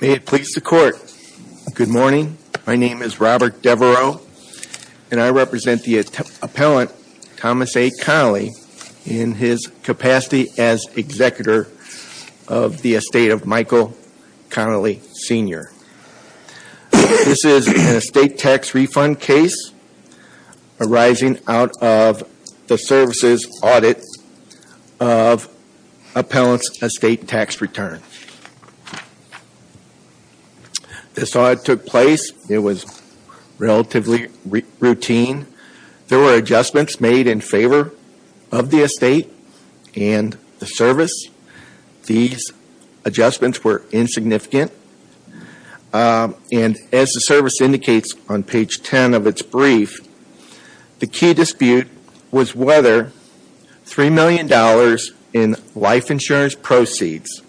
May it please the court. Good morning. My name is Robert Devereaux, and I represent the appellant, Thomas A. Connelly, in his capacity as executor of the estate of Michael Connelly, Sr. This is an estate tax refund case arising out of the services audit of appellant's estate tax return. This audit took place. It was relatively routine. There were adjustments made in favor of the estate and the service. These adjustments were insignificant, and as the service indicates on page 10 of its brief, the key dispute was whether $3 million in life insurance proceeds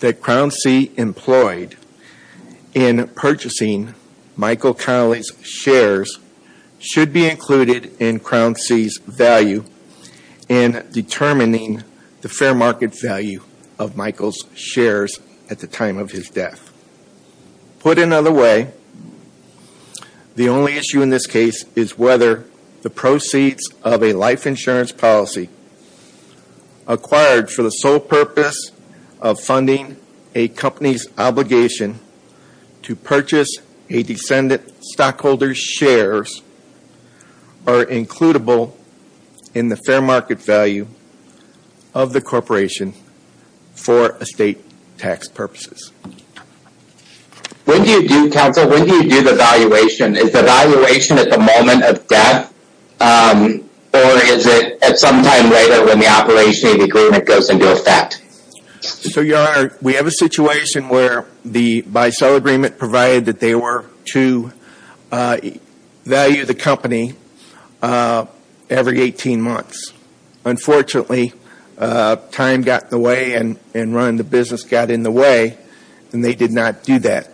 that Crown C. employed in purchasing Michael Connelly's shares should be included in Crown C.'s value in determining the fair market value of Michael's shares at the time of his death. Put another way, the only issue in this case is whether the proceeds of a life insurance policy acquired for the sole purpose of funding a company's purchase a descendant stockholder's shares are includable in the fair market value of the corporation for estate tax purposes. When do you do the valuation? Is the valuation at the moment of death, or is it at some time later when the operation of the agreement goes into effect? We have a situation where the buy-sell agreement provided that they were to value the company every 18 months. Unfortunately, time got in the way and running the business got in the way, and they did not do that.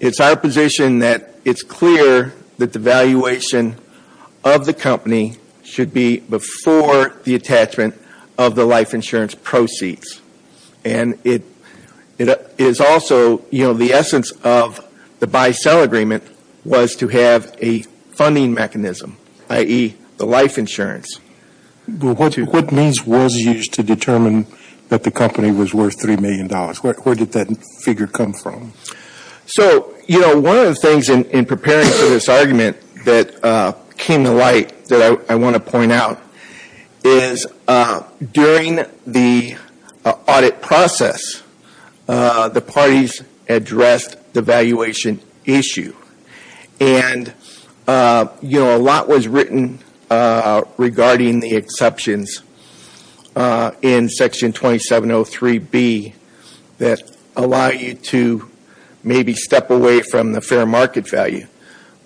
It's our position that it's clear that the valuation of the company should be before the attachment of the life insurance proceeds. And it is also, you know, the essence of the buy-sell agreement was to have a funding mechanism, i.e., the life insurance. What means was used to determine that the company was worth $3 million? Where did that figure come from? So, you know, one of the things in preparing for this argument that came to light that I want to point out is during the audit process, the parties addressed the valuation issue. And, you know, a lot was written regarding the exceptions in Section 2703B that allow you to maybe step away from the fair market value.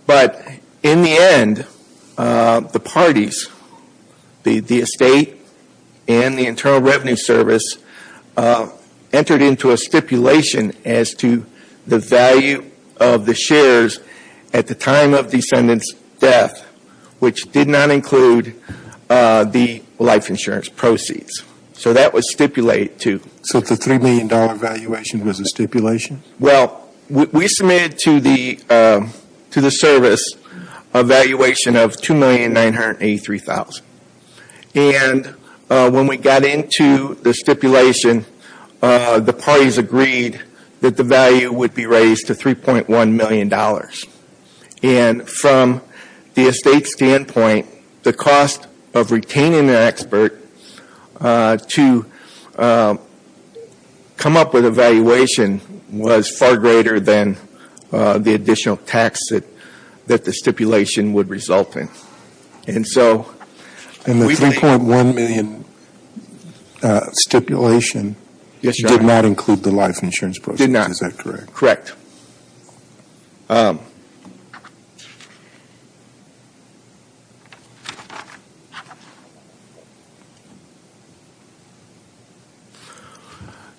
But in the end, the parties, the estate and the Internal Revenue Service, entered into a stipulation as to the value of the shares at the time of the ascendant's death, which did not include the life insurance proceeds. So that was stipulated too. So the $3 million valuation was a stipulation? Well, we submitted to the service a valuation of $2,983,000. And when we got into the stipulation, the parties agreed that the value would be raised to $3.1 million. And from the estate's standpoint, the cost of retaining an expert to come up with a valuation was far greater than the additional tax that the stipulation would result in. And so we think And the $3.1 million stipulation did not include the life insurance proceeds, is that correct? Correct.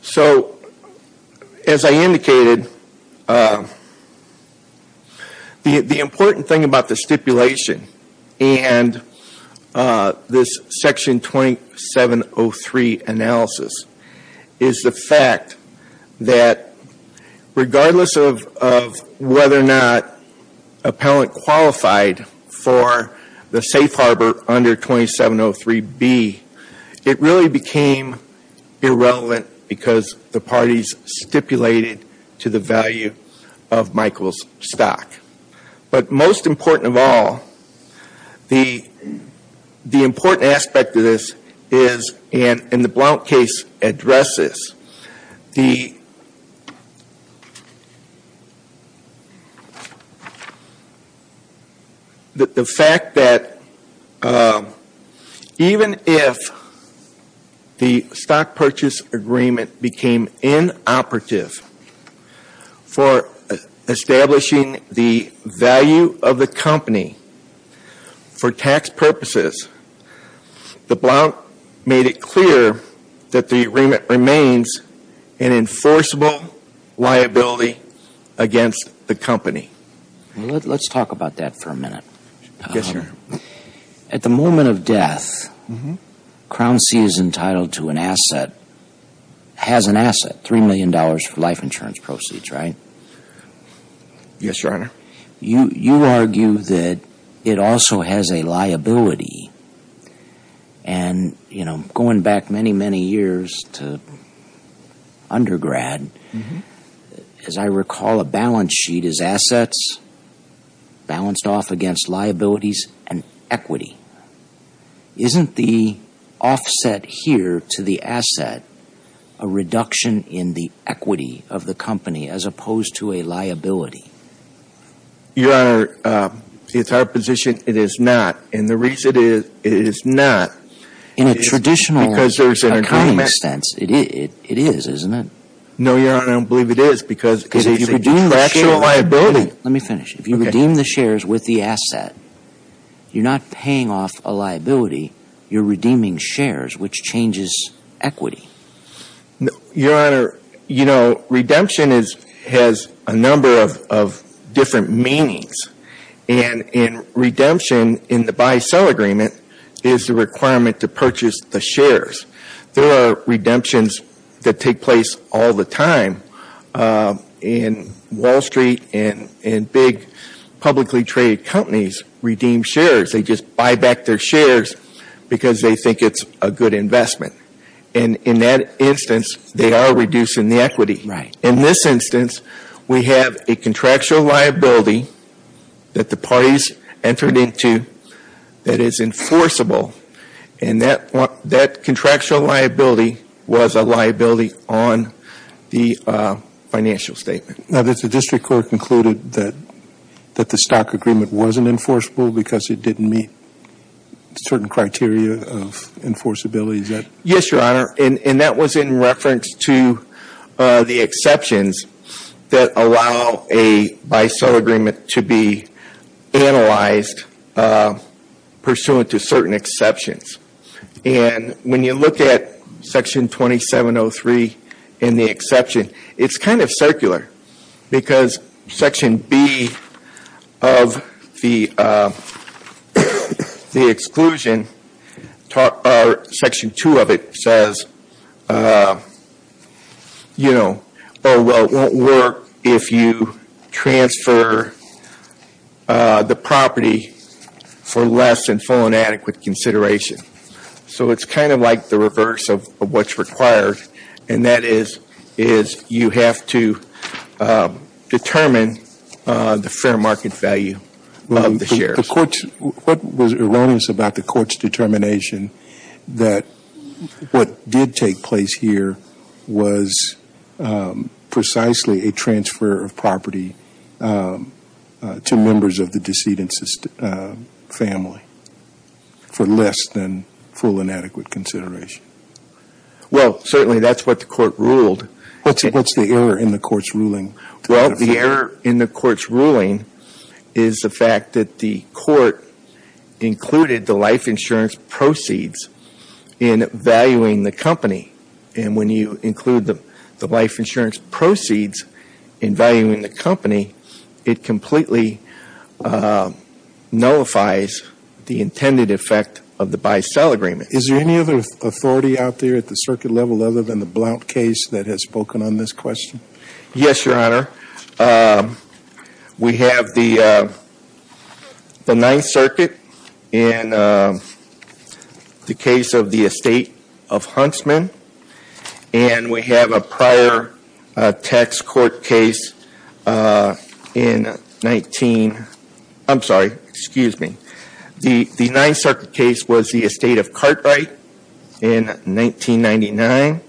So, as I indicated, the important thing about the stipulation and this Section 2703 analysis is the fact that regardless of whether or not a pellant qualified for the safe harbor under 2703B, it really became irrelevant because the parties stipulated to the value of Michael's addresses. The fact that even if the stock purchase agreement became inoperative for the company remains an enforceable liability against the company. Let's talk about that for a minute. At the moment of death, Crown C is entitled to an asset, has an asset, $3 million for life insurance proceeds, right? Yes, Your Honor. You argue that it also has a liability. And going back many, many years to undergrad, as I recall, a balance sheet is assets balanced off against liabilities and equity. Isn't the offset here to the asset a reduction in the equity of the company as opposed to a liability? Your Honor, it's our position it is not. And the reason it is not... In a traditional accounting sense, it is, isn't it? No, Your Honor, I don't believe it is because it's a factual liability. Let me finish. If you redeem the shares with the asset, you're not paying off a liability, you're redeeming shares, which changes equity. No, Your Honor, redemption has a number of different meanings. And in redemption, in the buy-sell agreement, is the requirement to purchase the shares. There are redemptions that take place all the time. In Wall Street and big publicly traded companies, redeem shares, they just buy back their shares because they think it's a good investment. And in that instance, they are reducing the equity. Right. In this instance, we have a contractual liability that the parties entered into that is enforceable. And that contractual liability was a liability on the financial statement. Now, the district court concluded that the stock agreement wasn't enforceable because it didn't meet certain criteria of enforceability. Is that? Yes, Your Honor. And that was in reference to the exceptions that allow a buy-sell agreement to be analyzed pursuant to certain exceptions. And when you look at Section 2703 in the exception, it's kind of circular because Section B of the exclusion, Section 2 of it says, you know, oh, well, it won't work if you transfer the property for less than full and adequate consideration. So it's kind of like the reverse of what's required, and that is you have to the fair market value of the shares. The court's, what was erroneous about the court's determination that what did take place here was precisely a transfer of property to members of the decedent family for less than full and adequate consideration? Well, certainly that's what the court ruled. What's the error in the court's ruling? Well, the error in the court's ruling is the fact that the court included the life insurance proceeds in valuing the company. And when you include the life insurance proceeds in valuing the company, it completely nullifies the intended effect of the buy-sell agreement. Is there any other authority out there at the circuit level other than the Blount case that has spoken on this question? Yes, Your Honor. We have the Ninth Circuit in the case of the estate of Huntsman, and we have a prior tax court case in 19, I'm sorry, excuse me. The Ninth Circuit case was the estate of Cartwright in 1999,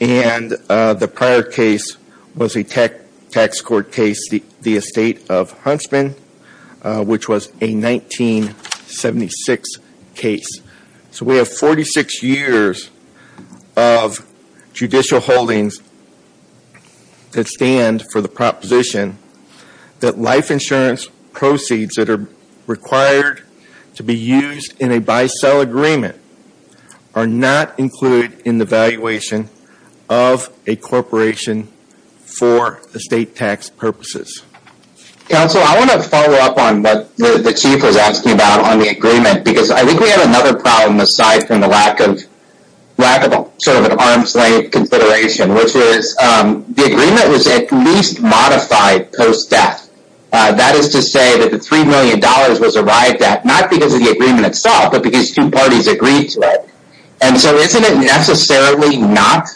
and the prior case was a tax court case, the estate of Huntsman, which was a 1976 case. So we have 46 years of judicial holdings that stand for the proposition that life insurance proceeds that are required to be used in a buy-sell agreement are not included in the valuation of a corporation for estate tax purposes. Counsel, I want to follow up on what the chief was asking about on the agreement, because I think we have another problem aside from the lack of sort of an arm's length consideration, which is the agreement was at least modified post-death. That is to say that the $3 million was arrived at not because of the agreement itself, but because two parties agreed to it. And so isn't it necessarily not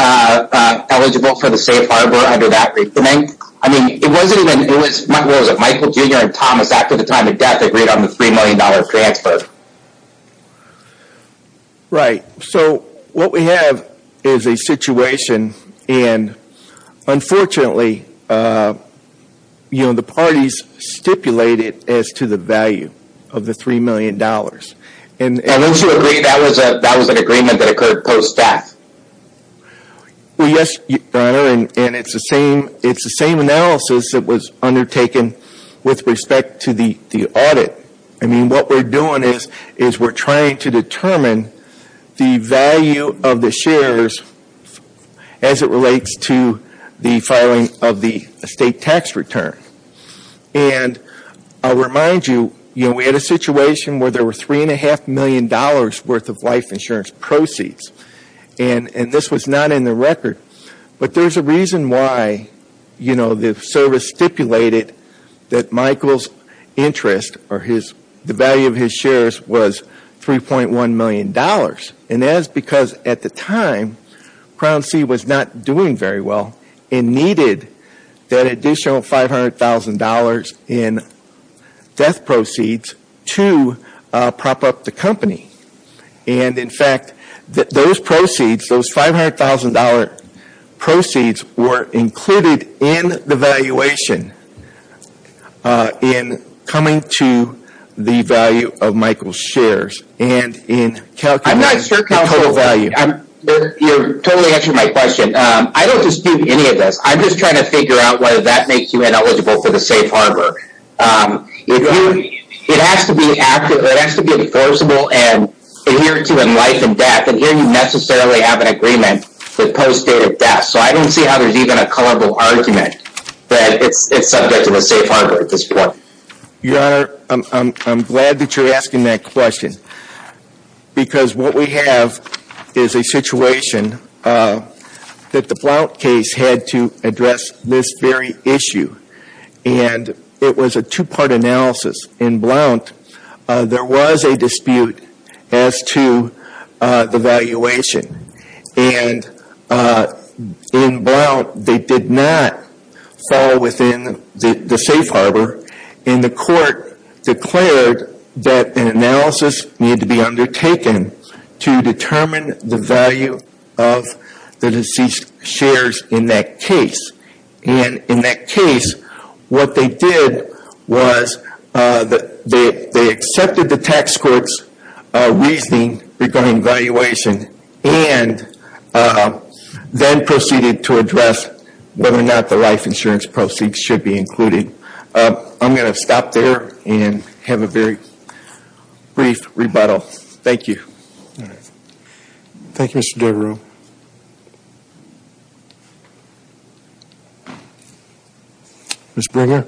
eligible for the safe harbor under that reasoning? I mean, it wasn't even, it was Michael Jr. and Thomas at the time of death agreed on the $3 million transfer. Right. So what we have is a situation, and unfortunately, you know, the parties stipulated as to the value of the $3 million. And that was an agreement that occurred post-death? Well, yes, and it's the same analysis that was undertaken with respect to the audit. I mean, what we're doing is we're trying to determine the value of the shares as it relates to the filing of the estate tax return. And I'll remind you, we had a situation where there were $3.5 million worth of life insurance proceeds, and this was not in the record. But there's a reason why the service stipulated that Michael's interest or the value of his shares was $3.1 million. And that is because at the time, Crown C was not doing very well and needed that additional $500,000 in death proceeds to prop up the company. And in fact, those proceeds, those $500,000 proceeds were included in the valuation in coming to the value of Michael's shares and in calculating the total value. You're totally answering my question. I don't dispute any of this. I'm just trying to figure out whether that makes you ineligible for the safe harbor. It has to be active. It has to be enforceable and adhere to in life and death. And here you necessarily have an agreement with post-date of death. So I don't see how there's even a colorable argument that it's subject to a safe harbor at this point. Your Honor, I'm glad that you're asking that question because what we have is a situation that the Blount case had to address this very issue. And it was a And in Blount, they did not fall within the safe harbor. And the court declared that an analysis needed to be undertaken to determine the value of the deceased shares in that case. And in that case, what they did was they accepted the tax court's reasoning regarding valuation and then proceeded to address whether or not the life insurance proceeds should be included. I'm going to stop there and have a very brief rebuttal. Thank you. All right. Thank you, Mr. Devereux. Ms. Bringer.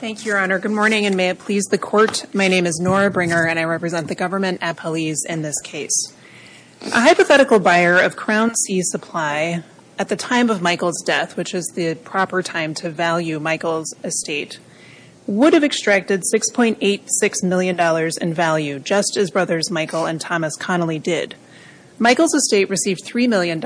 Thank you, Your Honor. Good morning and may it please the court. My name is Nora Bringer and I represent the government at Police in this case. A hypothetical buyer of Crown C Supply at the time of Michael's death, which is the proper time to value Michael's estate, would have extracted $6.86 million in value just as brothers Michael and Thomas Connolly did. Michael's estate received $3 million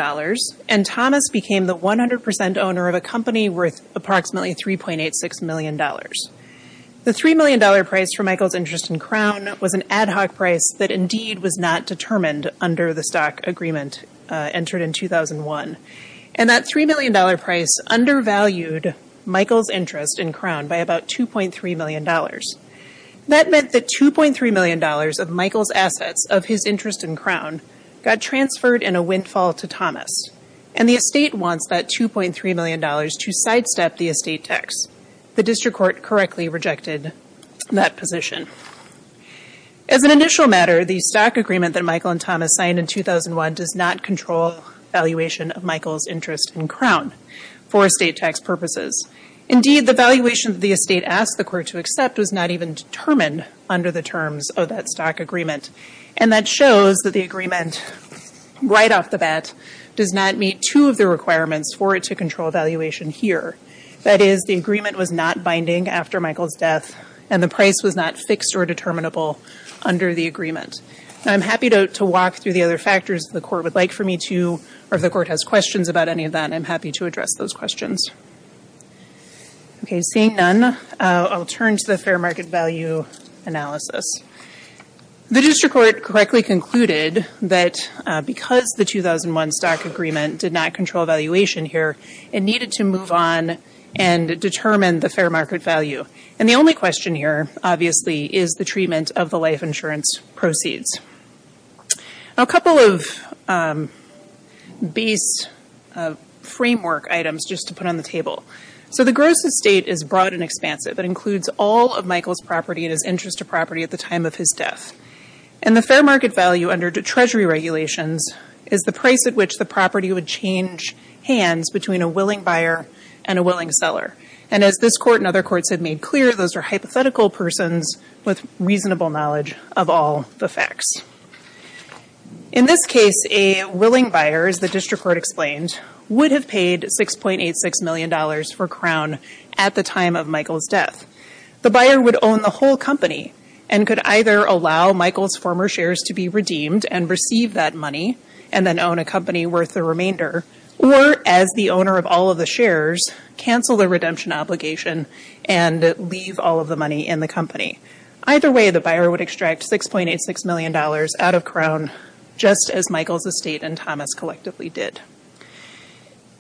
and Thomas became the 100% owner of a company worth approximately $3.86 million. The $3 million price for Michael's interest in Crown was an ad hoc price that indeed was not determined under the stock agreement entered in 2001. And that $3 million undervalued Michael's interest in Crown by about $2.3 million. That meant that $2.3 million of Michael's assets of his interest in Crown got transferred in a windfall to Thomas and the estate wants that $2.3 million to sidestep the estate tax. The district court correctly rejected that position. As an initial matter, the stock agreement that Michael and Thomas signed in Indeed, the valuation the estate asked the court to accept was not even determined under the terms of that stock agreement. And that shows that the agreement right off the bat does not meet two of the requirements for it to control valuation here. That is, the agreement was not binding after Michael's death and the price was not fixed or determinable under the agreement. I'm happy to walk through the other factors the court would like for me to, or if the court has questions about any of that, I'm happy to address those questions. Okay, seeing none, I'll turn to the fair market value analysis. The district court correctly concluded that because the 2001 stock agreement did not control valuation here, it needed to move on and determine the fair market value. And the only question here, obviously, is the treatment of the life insurance proceeds. A couple of beast framework items just to put on the table. So the gross estate is broad and expansive. It includes all of Michael's property and his interest of property at the time of his death. And the fair market value under Treasury regulations is the price at which the property would change hands between a willing buyer and a willing seller. And as this court and other courts have made clear, those are hypothetical persons with reasonable knowledge of all the facts. In this case, a willing buyer, as the district court explained, would have paid $6.86 million for Crown at the time of Michael's death. The buyer would own the whole company and could either allow Michael's former shares to be redeemed and receive that money and then own a company worth the remainder, or as the owner of all of the shares, cancel the redemption obligation and leave all of the money in the company. Either way, the buyer would extract $6.86 million out of Crown just as Michael's estate and Thomas collectively did.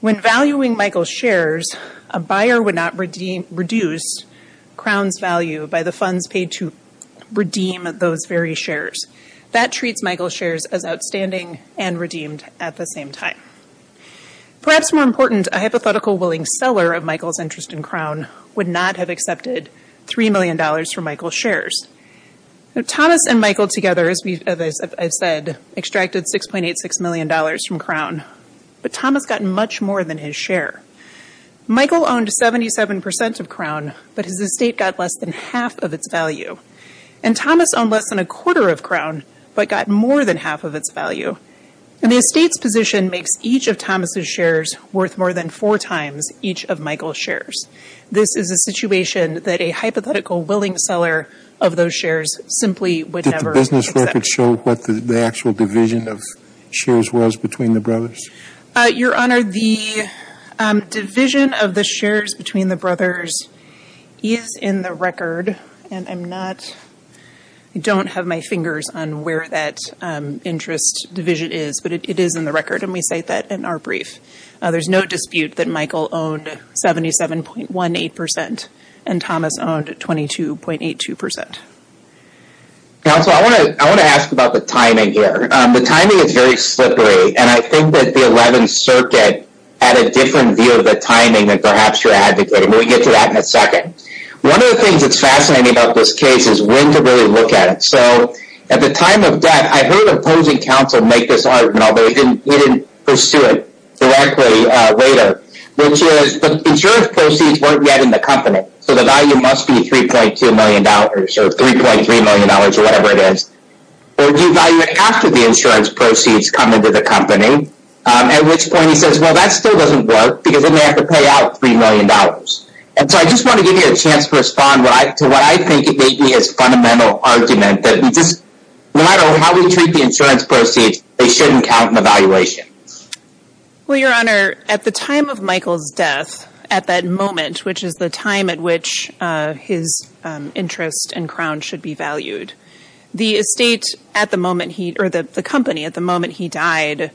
When valuing Michael's shares, a buyer would not reduce Crown's value by the funds paid to redeem those very shares. That treats Michael's Perhaps more important, a hypothetical willing seller of Michael's interest in Crown would not have accepted $3 million for Michael's shares. Thomas and Michael together, as I've said, extracted $6.86 million from Crown, but Thomas got much more than his share. Michael owned 77% of Crown, but his estate got less than half of its value. And Thomas owned less than a quarter of Crown, but got more than half of its value. And the estate's position makes each of Thomas's shares worth more than four times each of Michael's shares. This is a situation that a hypothetical willing seller of those shares simply would never accept. Did the business record show what the actual division of shares was between the brothers? Your Honor, the division of the shares between the on where that interest division is, but it is in the record and we cite that in our brief. There's no dispute that Michael owned 77.18% and Thomas owned 22.82%. Counselor, I want to ask about the timing here. The timing is very slippery and I think that the Eleventh Circuit had a different view of the timing than perhaps your advocate, and we'll get to that in a second. One of the things that's fascinating about this case is when to really look at it. So at the time of death, I heard opposing counsel make this argument, although he didn't pursue it directly later, which is the insurance proceeds weren't yet in the company. So the value must be $3.2 million or $3.3 million or whatever it is. Or do you value it after the insurance proceeds come into the company? At which point he says, well, that still doesn't work because then they have to pay out $3 million. And so I just want to give you a chance to respond to what I think may be his fundamental argument that we just, no matter how we treat the insurance proceeds, they shouldn't count in the valuation. Well, Your Honor, at the time of Michael's death, at that moment, which is the time at which his interest and crown should be valued, the estate at the moment he, or the company at the moment he died,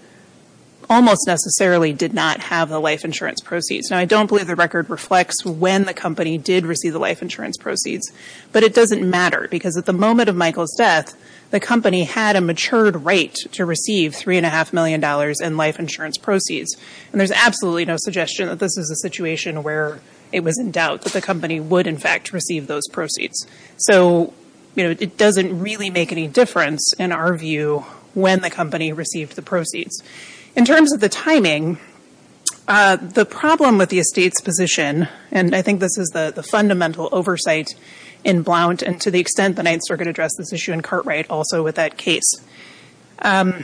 almost necessarily did not have the life insurance proceeds. Now, I don't believe the record reflects when the company did receive the life insurance proceeds, but it doesn't matter because at the moment of Michael's death, the company had a matured right to receive $3.5 million in life insurance proceeds. And there's absolutely no suggestion that this is a situation where it was in doubt that the company would in fact receive those proceeds. So, you know, it doesn't really make any difference in our view when the company received the proceeds. In terms of the timing, the problem with the estate's position, and I think this is the fundamental oversight in Blount, and to the extent the Ninth Circuit addressed this issue in Cartwright also with that case, the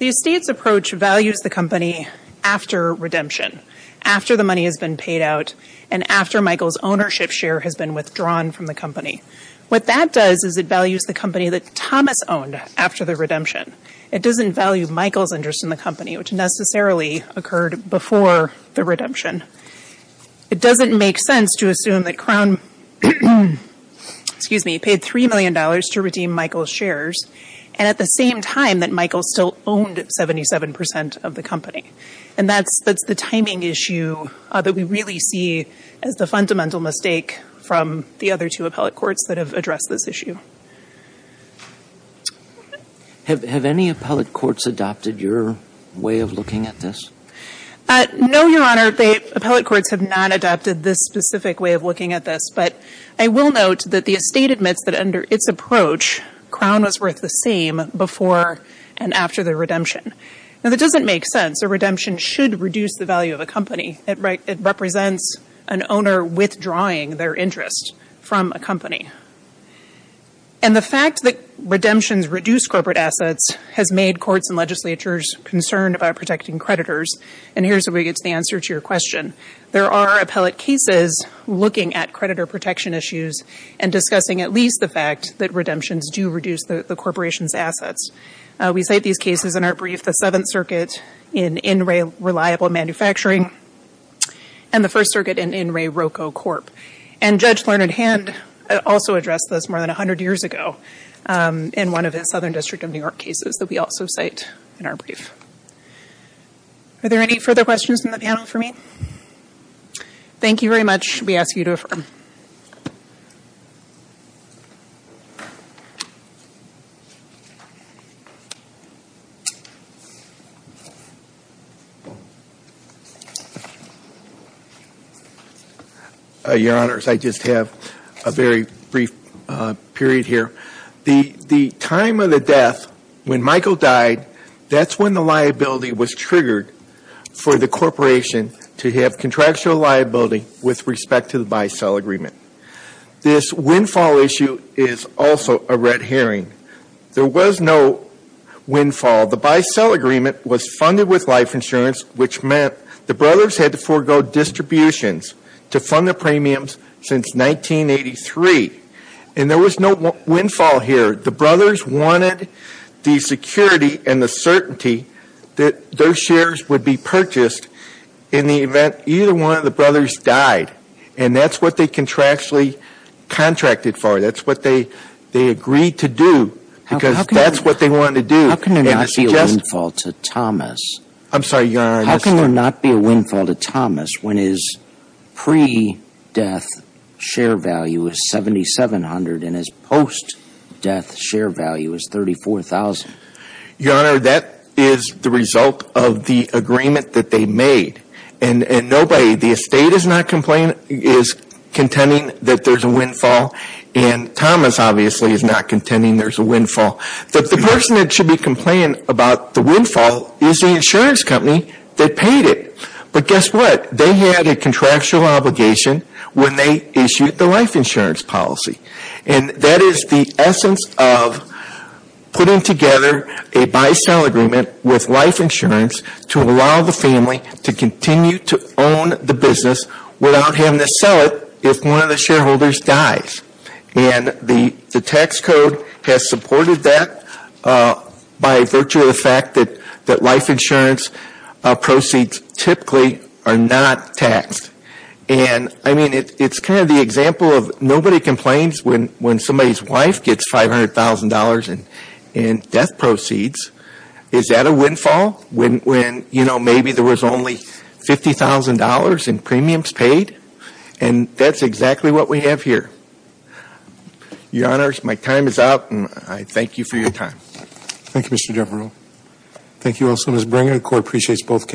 estate's approach values the company after redemption, after the money has been paid out, and after Michael's ownership share has been withdrawn from the company. What that does is it values the company that Thomas owned after the redemption. It doesn't value Michael's interest in the company, which necessarily occurred before the redemption. It doesn't make sense to assume that Crown, excuse me, paid $3 million to redeem Michael's shares, and at the same time that Michael still owned 77 percent of the company. And that's the timing issue that we really see as the fundamental mistake from the other two appellate courts that have addressed this issue. Have any appellate courts adopted your way of looking at this? No, Your Honor. Appellate courts have not adopted this specific way of looking at this, but I will note that the estate admits that under its approach, Crown was worth the same before and after the redemption. Now, that doesn't make sense. A redemption should reduce the value of a company. It represents an owner withdrawing their interest from a company. And the fact that redemptions reduce corporate assets has made courts and legislatures concerned about protecting creditors, and here's the way to get to the answer to your question. There are appellate cases looking at creditor protection issues and discussing at least the fact that redemptions do reduce the corporation's assets. We cite these cases in our brief, the Seventh Circuit in In Re Reliable Manufacturing and the First Circuit in In Re Roco Corp. And Judge Learned Hand also addressed this more than 100 years ago in one of his Southern District of New York cases that we also cite in our brief. Are there any further questions in the panel for me? Thank you very much. We ask you to affirm. Your Honors, I just have a very brief period here. The time of the death, when Michael died, that's when the liability was triggered for the corporation to have contractual liability with respect to the buy-sell agreement. This windfall issue is also a red herring. There was no windfall. The buy-sell agreement was funded with life insurance, which meant the brothers had to forego distributions to fund the premiums since 1983. And there was no windfall here. The brothers wanted the security and the certainty that their shares would be and that's what they contractually contracted for. That's what they agreed to do because that's what they wanted to do. How can there not be a windfall to Thomas when his pre-death share value is $7,700 and his post-death share value is $34,000? Your Honor, that is the result of the agreement that they made. And nobody, the estate is not contending that there's a windfall and Thomas obviously is not contending there's a windfall. The person that should be complaining about the windfall is the insurance company that paid it. But guess what? They had a contractual obligation when they issued the life insurance policy. And that is the essence of putting together a buy-sell agreement with life insurance to allow the family to continue to own the business without having to sell it if one of the shareholders dies. And the tax code has supported that by virtue of the fact that life insurance proceeds typically are not taxed. And I mean, it's kind of the example of nobody complains when somebody's wife gets $500,000 in death proceeds. Is that a windfall when, you know, maybe there was only $50,000 in premiums paid? And that's exactly what we have here. Your Honors, my time is up and I thank you for your time. Thank you, Mr. Devereux. Thank you also, Ms. Bringer. The Court appreciates both